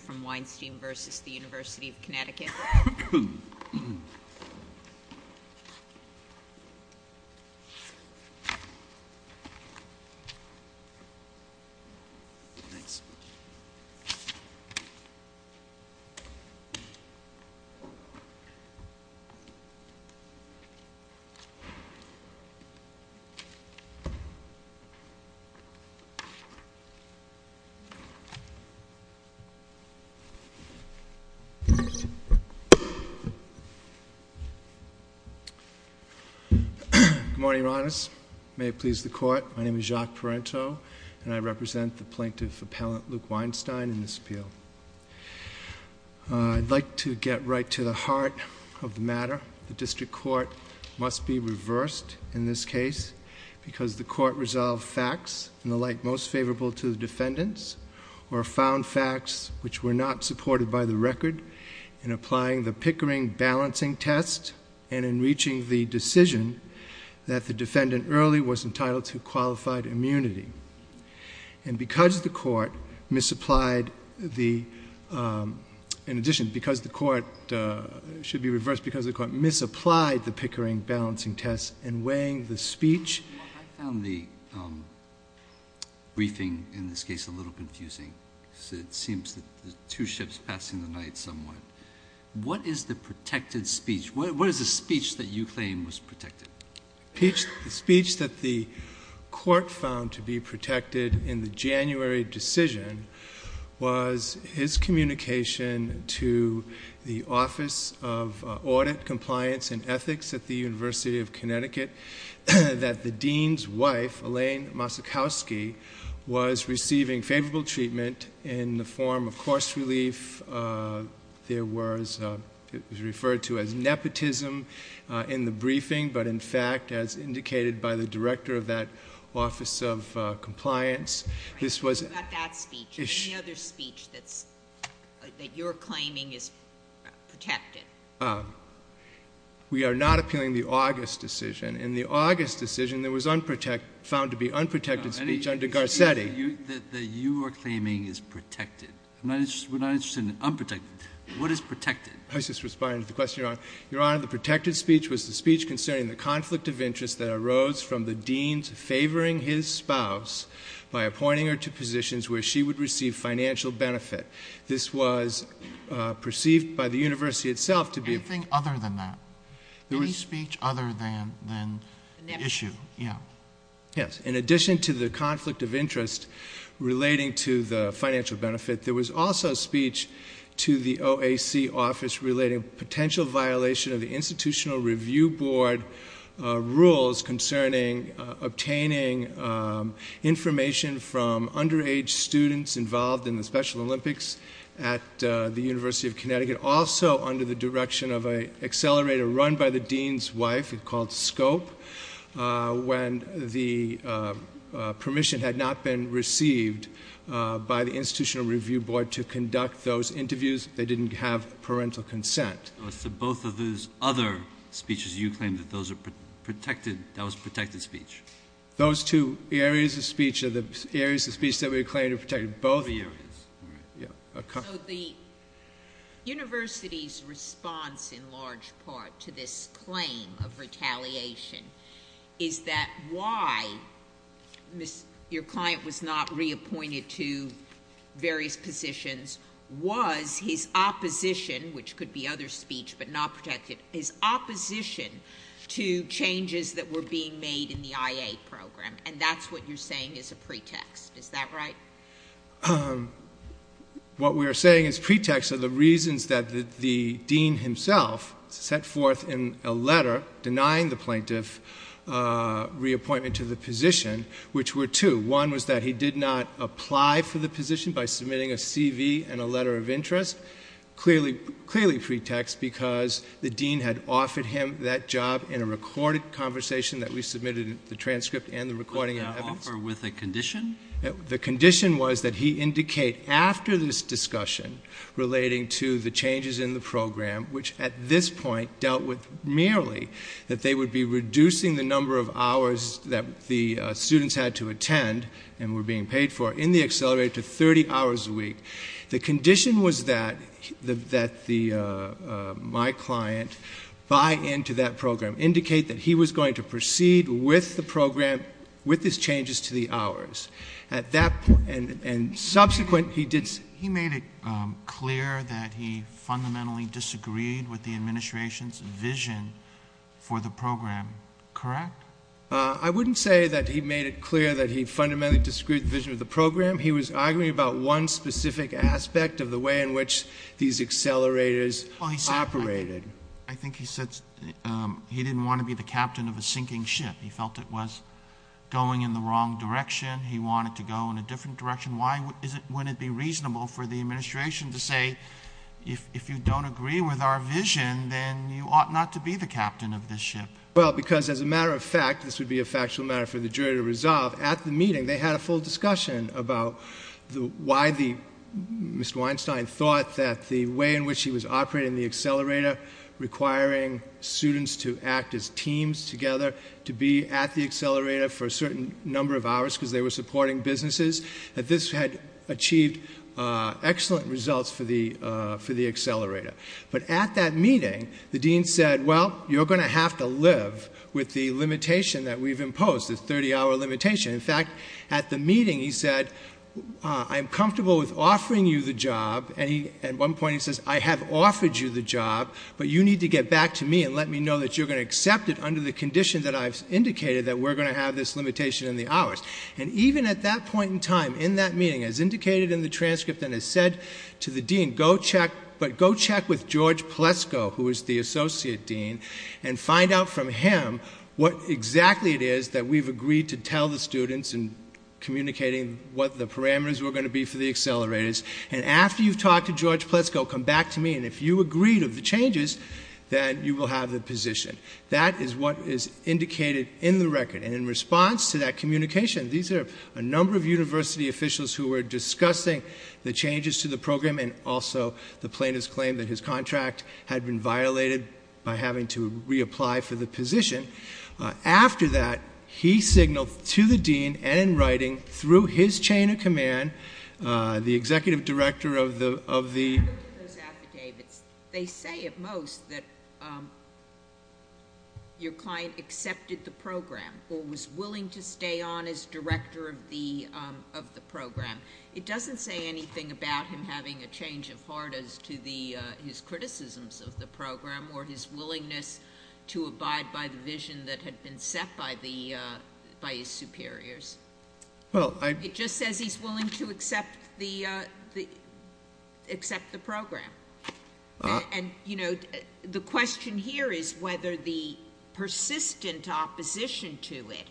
from Weinstein v. University of Connecticut. Good morning, Your Honors. May it please the Court, my name is Jacques Parenteau and I represent the Plaintiff Appellant Luke Weinstein in this appeal. I'd like to get right to the heart of the matter. The District Court must be reversed in this case because the Court resolved facts in the light most favorable to the defendants or found facts which were not supported by the record in applying the Pickering balancing test and in reaching the decision that the defendant early was entitled to qualified immunity. And because the Court misapplied the, in addition, because the Court, should be reversed, because the Court misapplied the Pickering balancing test in weighing the speech. I found the briefing in this case a little confusing. It seems that the two ships passing the night somewhat. What is the protected speech? What is the speech that you claim was protected? The speech that the Court found to be protected in the January decision was his communication to the Office of Audit, Compliance, and Ethics at the University of Connecticut that the Dean's wife, Elaine Mosikowski, was receiving favorable treatment in the form of course relief. There was referred to as nepotism in the briefing, but in fact, as indicated by the Director of that Office of Compliance, this was. Right. But not that speech. Any other speech that's, that you're claiming is protected? We are not appealing the August decision. In the August decision, there was unprotected, found to be unprotected speech under Garcetti. The speech that you are claiming is protected. We're not interested in unprotected. What is protected? I was just responding to the question, Your Honor. Your Honor, the protected speech was the speech concerning the conflict of interest that arose from the Dean's favoring his spouse by appointing her to positions where she would receive financial benefit. This was perceived by the University itself to be. Anything other than that? Any speech other than the issue? Yes. In addition to the conflict of interest relating to the financial benefit, there was also speech to the OAC Office relating potential violation of the Institutional Review Board rules concerning obtaining information from underage students involved in the Special Olympics at the University of Connecticut, also under the direction of an accelerator run by the Dean's wife, called SCOPE, when the permission had not been received by the Dean to conduct those interviews, they didn't have parental consent. So both of those other speeches, you claim that those are protected, that was protected speech? Those two areas of speech are the areas of speech that we claim to protect both. So the University's response, in large part, to this claim of retaliation, is that why your client was not reappointed to various positions, was his opposition, which could be other speech but not protected, his opposition to changes that were being made in the IA program, and that's what you're saying is a pretext, is that right? What we are saying is pretexts are the reasons that the Dean himself set forth in a letter denying the plaintiff reappointment to the position, which were two. One was that he did not apply for the position by submitting a CV and a letter of interest, clearly pretext, because the Dean had offered him that job in a recorded conversation that we submitted the transcript and the recording evidence. Was that an offer with a condition? The condition was that he indicate after this discussion relating to the changes in the program, that they would be reducing the number of hours that the students had to attend and were being paid for in the accelerated to 30 hours a week. The condition was that my client buy into that program, indicate that he was going to proceed with the program, with his changes to the hours. At that point, and subsequent, he did... clear that he fundamentally disagreed with the administration's vision for the program, correct? I wouldn't say that he made it clear that he fundamentally disagreed with the vision of the program. He was arguing about one specific aspect of the way in which these accelerators operated. I think he said he didn't want to be the captain of a sinking ship. He felt it was going in the wrong direction. He wanted to go in a different direction. Wouldn't it be reasonable for the administration to say, if you don't agree with our vision, then you ought not to be the captain of this ship? Well, because as a matter of fact, this would be a factual matter for the jury to resolve. At the meeting, they had a full discussion about why Mr. Weinstein thought that the way in which he was operating the accelerator, requiring students to act as teams together, to be at the accelerator for a certain number of hours because they were supporting businesses, that this had achieved excellent results for the accelerator. But at that meeting, the dean said, well, you're going to have to live with the limitation that we've imposed, the 30-hour limitation. In fact, at the meeting, he said, I'm comfortable with offering you the job. And at one point he says, I have offered you the job, but you need to get back to me and let me know that you're going to accept it under the condition that I've indicated that we're going to have this limitation in the hours. And even at that point in time, in that meeting, as indicated in the transcript and as said to the dean, go check with George Plesko, who is the associate dean, and find out from him what exactly it is that we've agreed to tell the students in communicating what the parameters were going to be for the accelerators. And after you've talked to George Plesko, come back to me. And if you agreed of the changes, then you will have the position. That is what is indicated in the record. And in response to that communication, these are a number of university officials who were discussing the changes to the program and also the plaintiff's claim that his contract had been violated by having to reapply for the position. After that, he signaled to the dean and in writing, through his chain of command, the executive director of the- When you look at those affidavits, they say at most that your client accepted the program or was willing to stay on as director of the program. It doesn't say anything about him having a change of heart as to his criticisms of the program or his willingness to abide by the vision that had been set by his superiors. Well, I- And, you know, the question here is whether the persistent opposition to it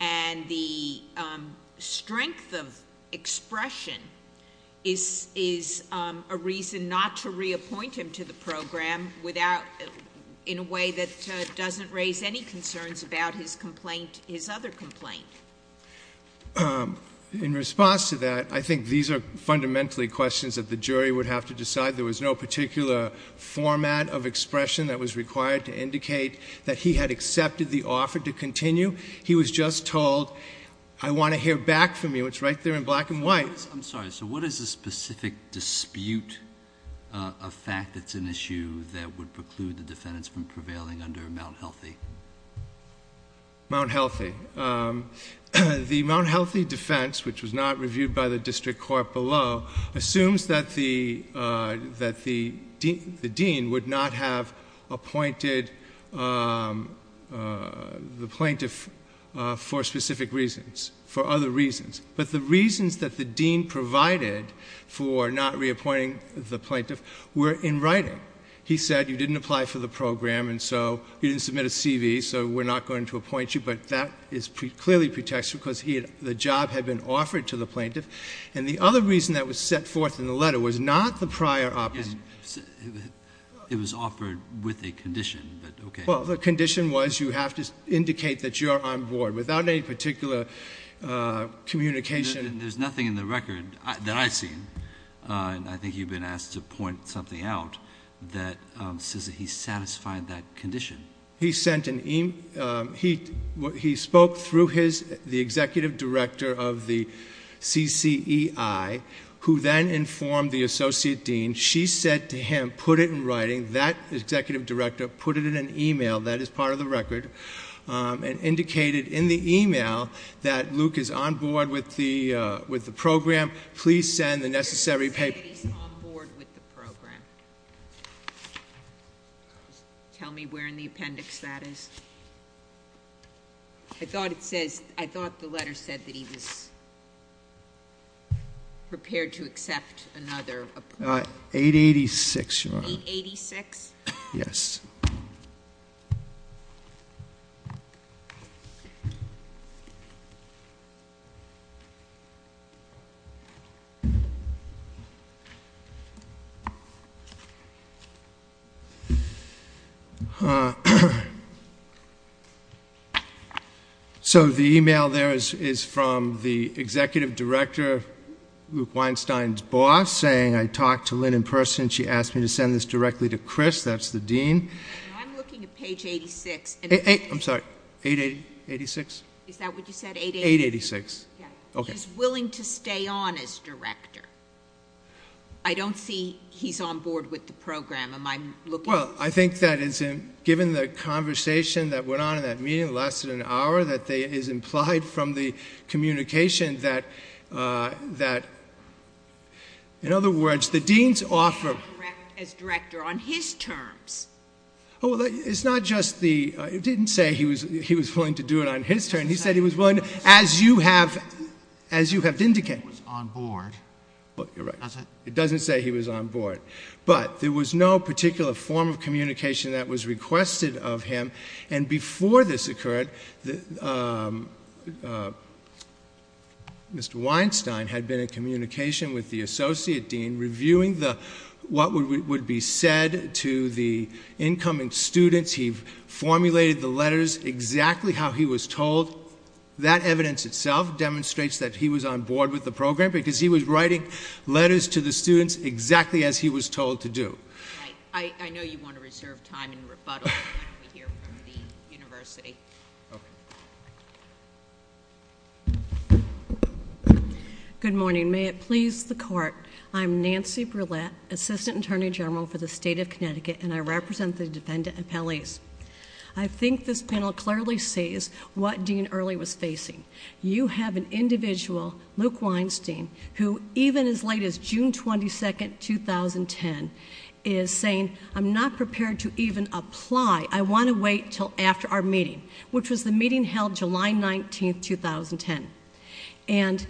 and the strength of expression is a reason not to reappoint him to the program without-in a way that doesn't raise any concerns about his complaint, his other complaint. In response to that, I think these are fundamentally questions that the jury would have to decide. There was no particular format of expression that was required to indicate that he had accepted the offer to continue. He was just told, I want to hear back from you. It's right there in black and white. I'm sorry. So what is the specific dispute of fact that's an issue that would preclude the defendants from prevailing under Mount Healthy? Mount Healthy. The Mount Healthy defense, which was not reviewed by the district court below, assumes that the dean would not have appointed the plaintiff for specific reasons, for other reasons. But the reasons that the dean provided for not reappointing the plaintiff were in writing. He said, you didn't apply for the program and so you didn't submit a CV, so we're not going to appoint you. But that is clearly pretext because the job had been offered to the plaintiff. And the other reason that was set forth in the letter was not the prior opposite. It was offered with a condition, but okay. Well, the condition was you have to indicate that you're on board without any particular communication. There's nothing in the record that I've seen, and I think you've been asked to point something out, that says that he satisfied that condition. He spoke through the executive director of the CCEI, who then informed the associate dean. She said to him, put it in writing. That executive director put it in an email, that is part of the record, and indicated in the email that Luke is on board with the program. Please send the necessary papers. He's on board with the program. Tell me where in the appendix that is. I thought it says, I thought the letter said that he was prepared to accept another. 886, Your Honor. 886? Yes. So, the email there is from the executive director, Luke Weinstein's boss, saying, I talked to Lynn in person. She asked me to send this directly to Chris. That's the dean. I'm looking at page 86. I'm sorry, 886? Is that what you said, 886? 886, okay. He's willing to stay on as director. I don't see he's on board with the program. Am I looking— Well, I think that given the conversation that went on in that meeting, it lasted an hour, that it is implied from the communication that, in other words, the dean's offer— He's willing to stay on as director on his terms. Oh, well, it's not just the—it didn't say he was willing to do it on his terms. He said he was willing to, as you have indicated— He was on board. Well, you're right. It doesn't say he was on board. But there was no particular form of communication that was requested of him. And before this occurred, Mr. Weinstein had been in communication with the associate dean reviewing what would be said to the incoming students. He formulated the letters exactly how he was told. That evidence itself demonstrates that he was on board with the program because he was writing letters to the students exactly as he was told to do. Right. I know you want to reserve time and rebuttal when we hear from the university. Good morning. May it please the Court. I'm Nancy Brouillette, assistant attorney general for the state of Connecticut, and I represent the dependent appellees. I think this panel clearly sees what Dean Early was facing. You have an individual, Luke Weinstein, who even as late as June 22, 2010, is saying, I'm not prepared to even apply. I want to wait until after our meeting, which was the meeting held July 19, 2010. And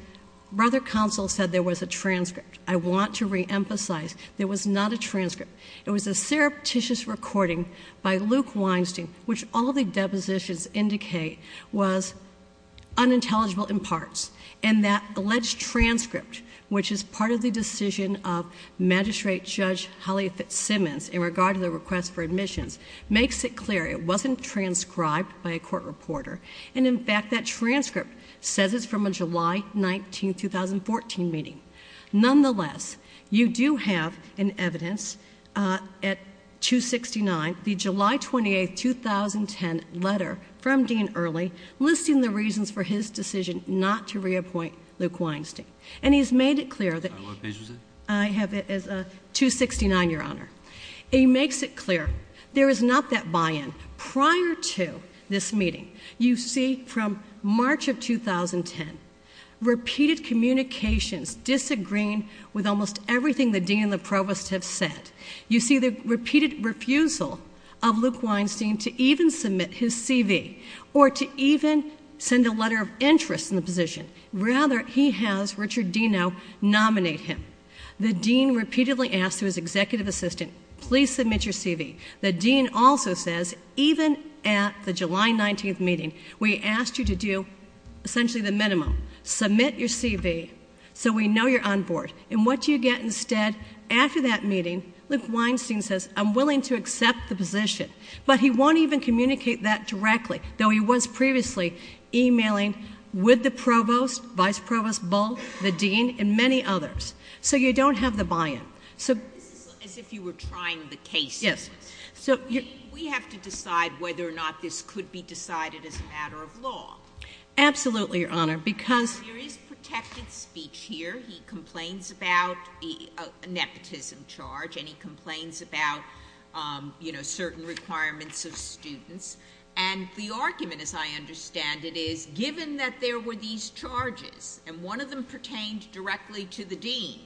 brother counsel said there was a transcript. I want to reemphasize there was not a transcript. It was a surreptitious recording by Luke Weinstein, which all the depositions indicate was unintelligible in parts. And that alleged transcript, which is part of the decision of Magistrate Judge Holly Fitzsimmons in regard to the request for admissions, makes it clear it wasn't transcribed by a court reporter. And in fact, that transcript says it's from a July 19, 2014 meeting. Nonetheless, you do have an evidence at 269, the July 28, 2010 letter from Dean Early, listing the reasons for his decision not to reappoint Luke Weinstein. And he's made it clear that- What page was it? I have it as 269, Your Honor. He makes it clear there is not that buy-in. Prior to this meeting, you see from March of 2010, repeated communications disagreeing with almost everything the dean and the provost have said. You see the repeated refusal of Luke Weinstein to even submit his CV, or to even send a letter of interest in the position. Rather, he has Richard Deno nominate him. The dean repeatedly asks his executive assistant, please submit your CV. The dean also says, even at the July 19th meeting, we asked you to do essentially the minimum. Submit your CV so we know you're on board. And what do you get instead? After that meeting, Luke Weinstein says, I'm willing to accept the position. But he won't even communicate that directly, though he was previously emailing with the provost, vice provost, Bull, the dean, and many others. So you don't have the buy-in. So this is as if you were trying the case. Yes. So we have to decide whether or not this could be decided as a matter of law. Absolutely, Your Honor. Because there is protected speech here. He complains about the nepotism charge, and he complains about certain requirements of students. And the argument, as I understand it, is given that there were these charges, and one of them pertained directly to the dean,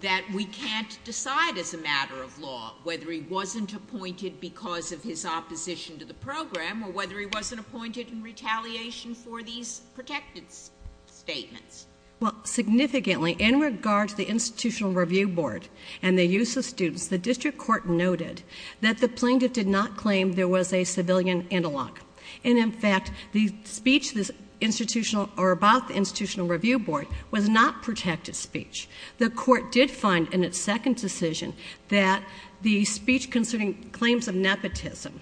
that we can't decide as a matter of law whether he wasn't appointed because of his opposition to the program, or whether he wasn't appointed in retaliation for these protected statements. Well, significantly, in regard to the Institutional Review Board and the use of students, the district court noted that the plaintiff did not claim there was a civilian analog. And in fact, the speech about the Institutional Review Board was not protected speech. The court did find in its second decision that the speech concerning claims of nepotism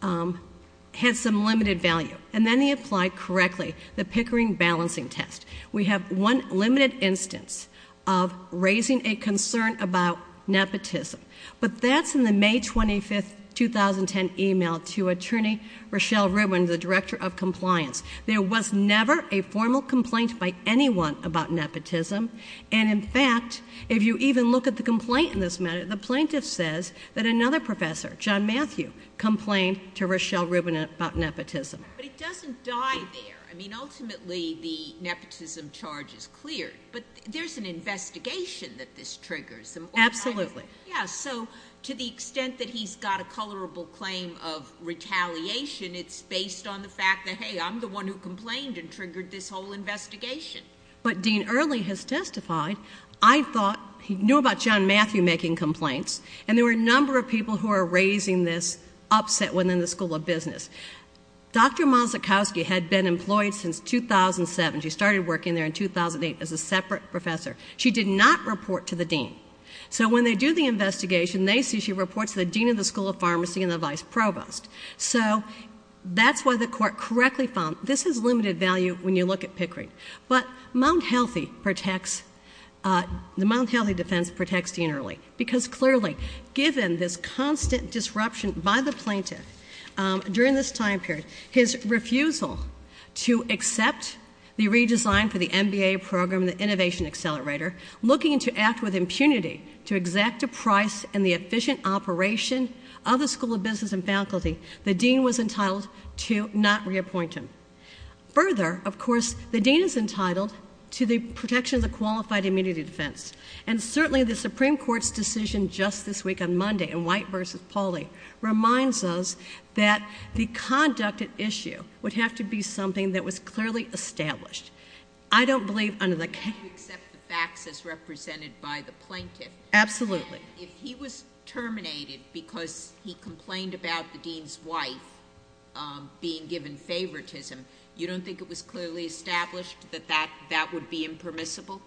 had some limited value. And then he applied correctly the Pickering balancing test. We have one limited instance of raising a concern about nepotism. But that's in the May 25, 2010 email to Attorney Rochelle Redwin, the Director of Compliance. There was never a formal complaint by anyone about nepotism. And in fact, if you even look at the complaint in this matter, the plaintiff says that another professor, John Matthew, complained to Rochelle Redwin about nepotism. But it doesn't die there. I mean, ultimately, the nepotism charge is cleared. But there's an investigation that this triggers. Absolutely. Yeah. So to the extent that he's got a colorable claim of retaliation, it's based on the fact that, hey, I'm the one who complained and triggered this whole investigation. But Dean Early has testified. I thought he knew about John Matthew making complaints. And there were a number of people who are raising this upset within the School of Business. Dr. Mazuchowski had been employed since 2007. She started working there in 2008 as a separate professor. She did not report to the dean. So when they do the investigation, they see she reports to the dean of the School of Pharmacy and the vice provost. So that's why the court correctly found this has limited value when you look at Pickering. But the Mount Healthy defense protects Dean Early. Because clearly, given this constant disruption by the plaintiff during this time period, his refusal to accept the redesign for the MBA program, the innovation accelerator, looking to act with impunity to exact a price in the efficient operation of the School of Business and faculty, the dean was entitled to not reappoint him. Further, of course, the dean is entitled to the protection of the qualified immunity defense. And certainly, the Supreme Court's decision just this week on Monday in White v. Pauley reminds us that the conduct at issue would have to be something that was clearly established. I don't believe under the case- Do you accept the facts as represented by the plaintiff? Absolutely. If he was terminated because he complained about the dean's wife being given favoritism, you don't think it was clearly established that that would be impermissible?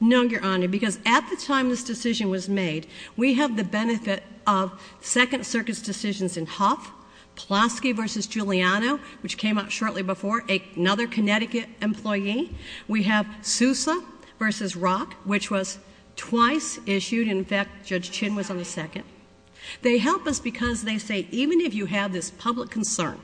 No, Your Honor. Because at the time this decision was made, we have the benefit of Second Circuit's decisions in Huff, Pulaski v. Giuliano, which came out shortly before, another Connecticut employee. We have Sousa v. Rock, which was twice issued. In fact, Judge Chin was on the second. They help us because they say, even if you have this public concern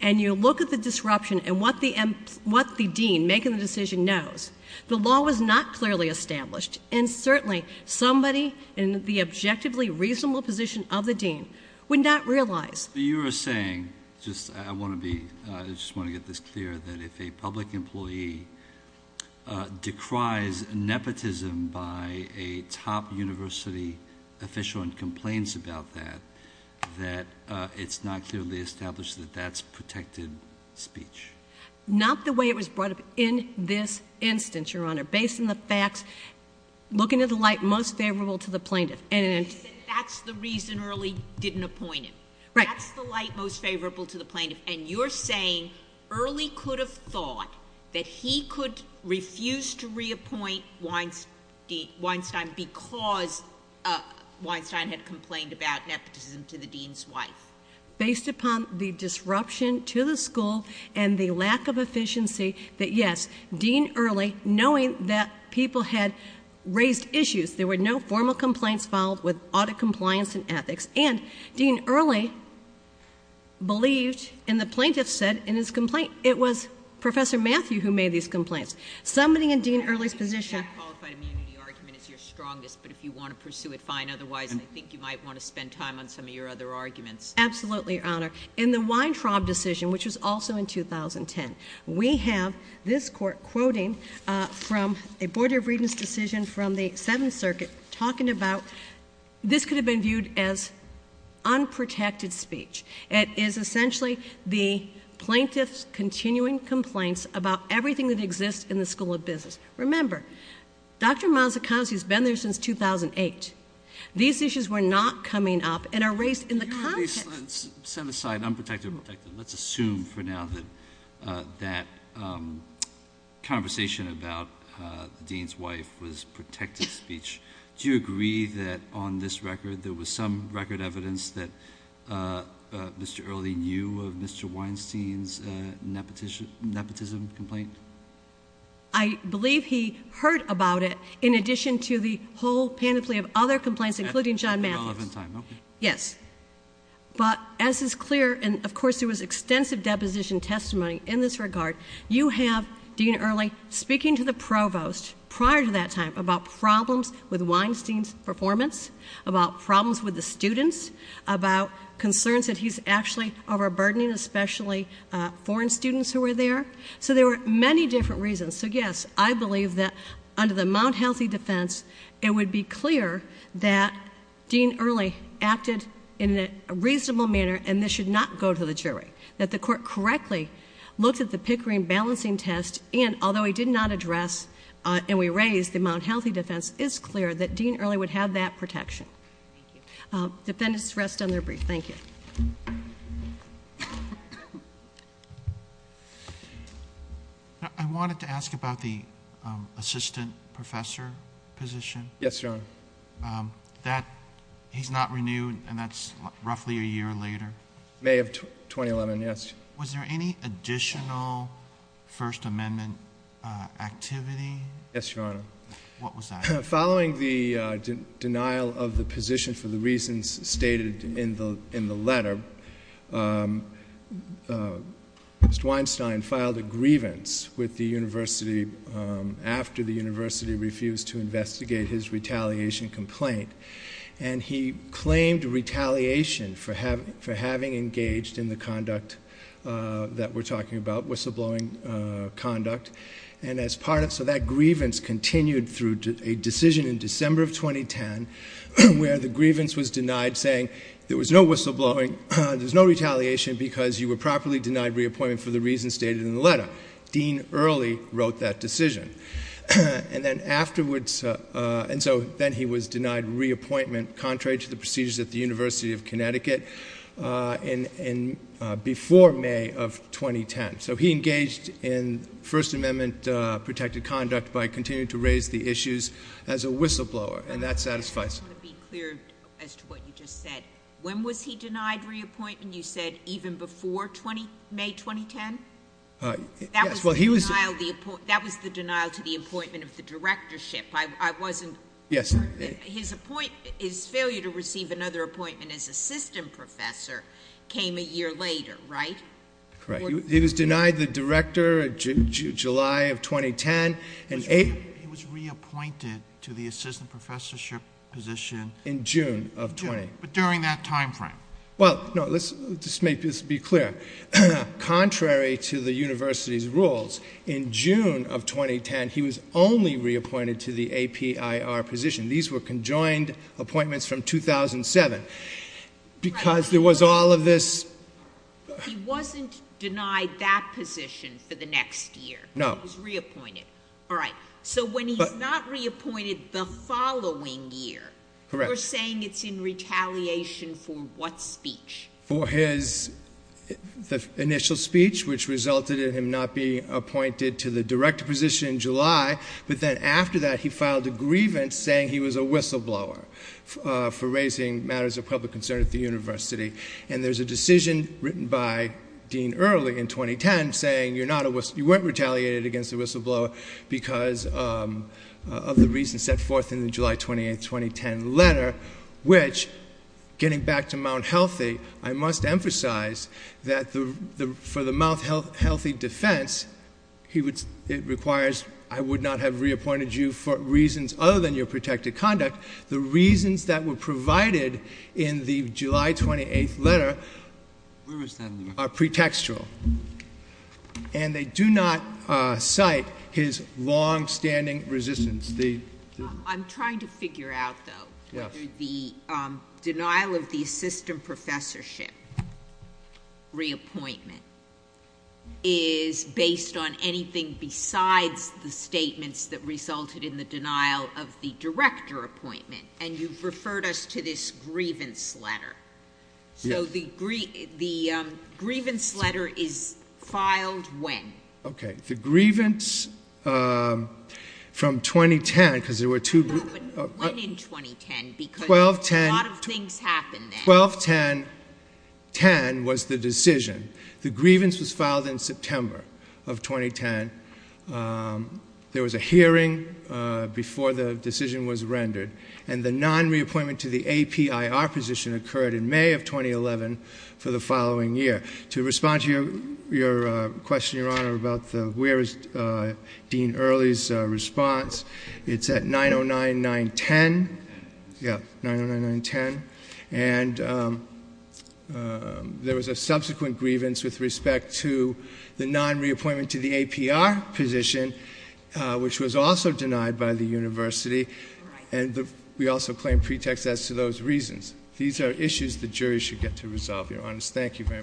and you look at the disruption and what the dean making the decision knows, the law was not clearly established. And certainly, somebody in the objectively reasonable position of the dean would not realize. You are saying, I just want to get this clear, that if a public employee decries nepotism by a top university official and complains about that, that it's not clearly established that that's protected speech? Not the way it was brought up in this instance, Your Honor. Based on the facts, looking at the light most favorable to the plaintiff. And that's the reason Early didn't appoint him. Right. That's the light most favorable to the plaintiff. And you're saying Early could have thought that he could refuse to reappoint Weinstein because Weinstein had complained about nepotism to the dean's wife? Based upon the disruption to the school and the lack of efficiency, that yes, Dean Early, knowing that people had raised issues, there were no formal complaints filed with audit compliance and ethics. And Dean Early believed, and the plaintiff said in his complaint, it was Professor Matthew who made these complaints. Somebody in Dean Early's position. Qualified immunity argument is your strongest, but if you want to pursue it, fine. Otherwise, I think you might want to spend time on some of your other arguments. Absolutely, Your Honor. In the Weintraub decision, which was also in 2010, we have this court quoting from a Board of Readings decision from the Seventh Circuit talking about this could have been viewed as unprotected speech. It is essentially the plaintiff's continuing complaints about everything that exists in the School of Business. Remember, Dr. Mazzacazzi has been there since 2008. These issues were not coming up and are raised in the context. You already set aside unprotected and protected. Let's assume for now that that conversation about the dean's wife was protected speech. Do you agree that on this record, there was some record evidence that Mr. Early knew of Mr. Weinstein's nepotism complaint? I believe he heard about it in addition to the whole panoply of other complaints, including John Mazzacazzi's. Yes, but as is clear, and of course there was extensive deposition testimony in this regard, you have Dean Early speaking to the provost prior to that time about problems with Weinstein's performance, about problems with the students, about concerns that he's actually overburdening, especially foreign students who were there. So there were many different reasons. So yes, I believe that under the Mount Healthy defense, it would be clear that Dean Early acted in a reasonable manner and this should not go to the jury. That the court correctly looked at the Pickering balancing test and although he did not address and we raised the Mount Healthy defense, it's clear that Dean Early would have that protection. Defendants rest on their brief. Thank you. I wanted to ask about the assistant professor position. Yes, Your Honor. That he's not renewed and that's roughly a year later. May of 2011, yes. Was there any additional First Amendment activity? Yes, Your Honor. What was that? Following the denial of the position for the reasons stated in the letter, Mr. Weinstein filed a grievance with the university after the university refused to investigate his retaliation complaint and he claimed retaliation for having engaged in the conduct that we're talking about, whistleblowing conduct. So that grievance continued through a decision in December of 2010 where the grievance was denied saying there was no whistleblowing, there's no retaliation because you were properly denied reappointment for the reasons stated in the letter. Dean Early wrote that decision and then afterwards, and so then he was denied reappointment contrary to the procedures at the University of Connecticut before May of 2010. So he engaged in First Amendment protected conduct by continuing to raise the issues as a whistleblower and that satisfies him. To be clear as to what you just said, when was he denied reappointment? You said even before May 2010? That was the denial to the appointment of the directorship. His failure to receive another appointment as assistant professor came a year later, right? Correct. He was denied the director July of 2010. He was reappointed to the assistant professorship position in June of 20. But during that timeframe? Well, no, let's just make this be clear. Contrary to the university's rules, in June of 2010, he was only reappointed to the APIR position. These were conjoined appointments from 2007 because there was all of this. He wasn't denied that position for the next year. No. He was reappointed. All right. So when he's not reappointed the following year? Correct. You're saying it's in retaliation for what speech? For his initial speech, which resulted in him not being appointed to the director position in July. But then after that, he filed a grievance saying he was a whistleblower for raising matters of public concern at the university. And there's a decision written by Dean Early in 2010 saying you weren't retaliated against the whistleblower because of the reason set forth in the July 28th, 2010 letter, which getting back to Mount Healthy, I must emphasize that for the Mount Healthy defense, it requires I would not have reappointed you for reasons other than your protected conduct. The reasons that were provided in the July 28th letter are pretextual. And they do not cite his longstanding resistance. I'm trying to figure out though, whether the denial of the assistant professorship reappointment is based on anything besides the statements that resulted in the denial of the director appointment. And you've referred us to this grievance letter. So the grievance letter is filed when? Okay, the grievance from 2010, because there were two... No, but when in 2010? Because a lot of things happened then. 12-10-10 was the decision. The grievance was filed in September of 2010. There was a hearing before the decision was rendered. And the non-reappointment to the APIR position occurred in May of 2011 for the following year. To respond to your question, Your Honor, about where is Dean Early's response, it's at 9-0-9-9-10. Yeah, 9-0-9-9-10. And there was a subsequent grievance with respect to the non-reappointment to the APR position, which was also denied by the university. And we also claim pretext as to those reasons. These are issues the jury should get to resolve, Your Honor. Thank you very much.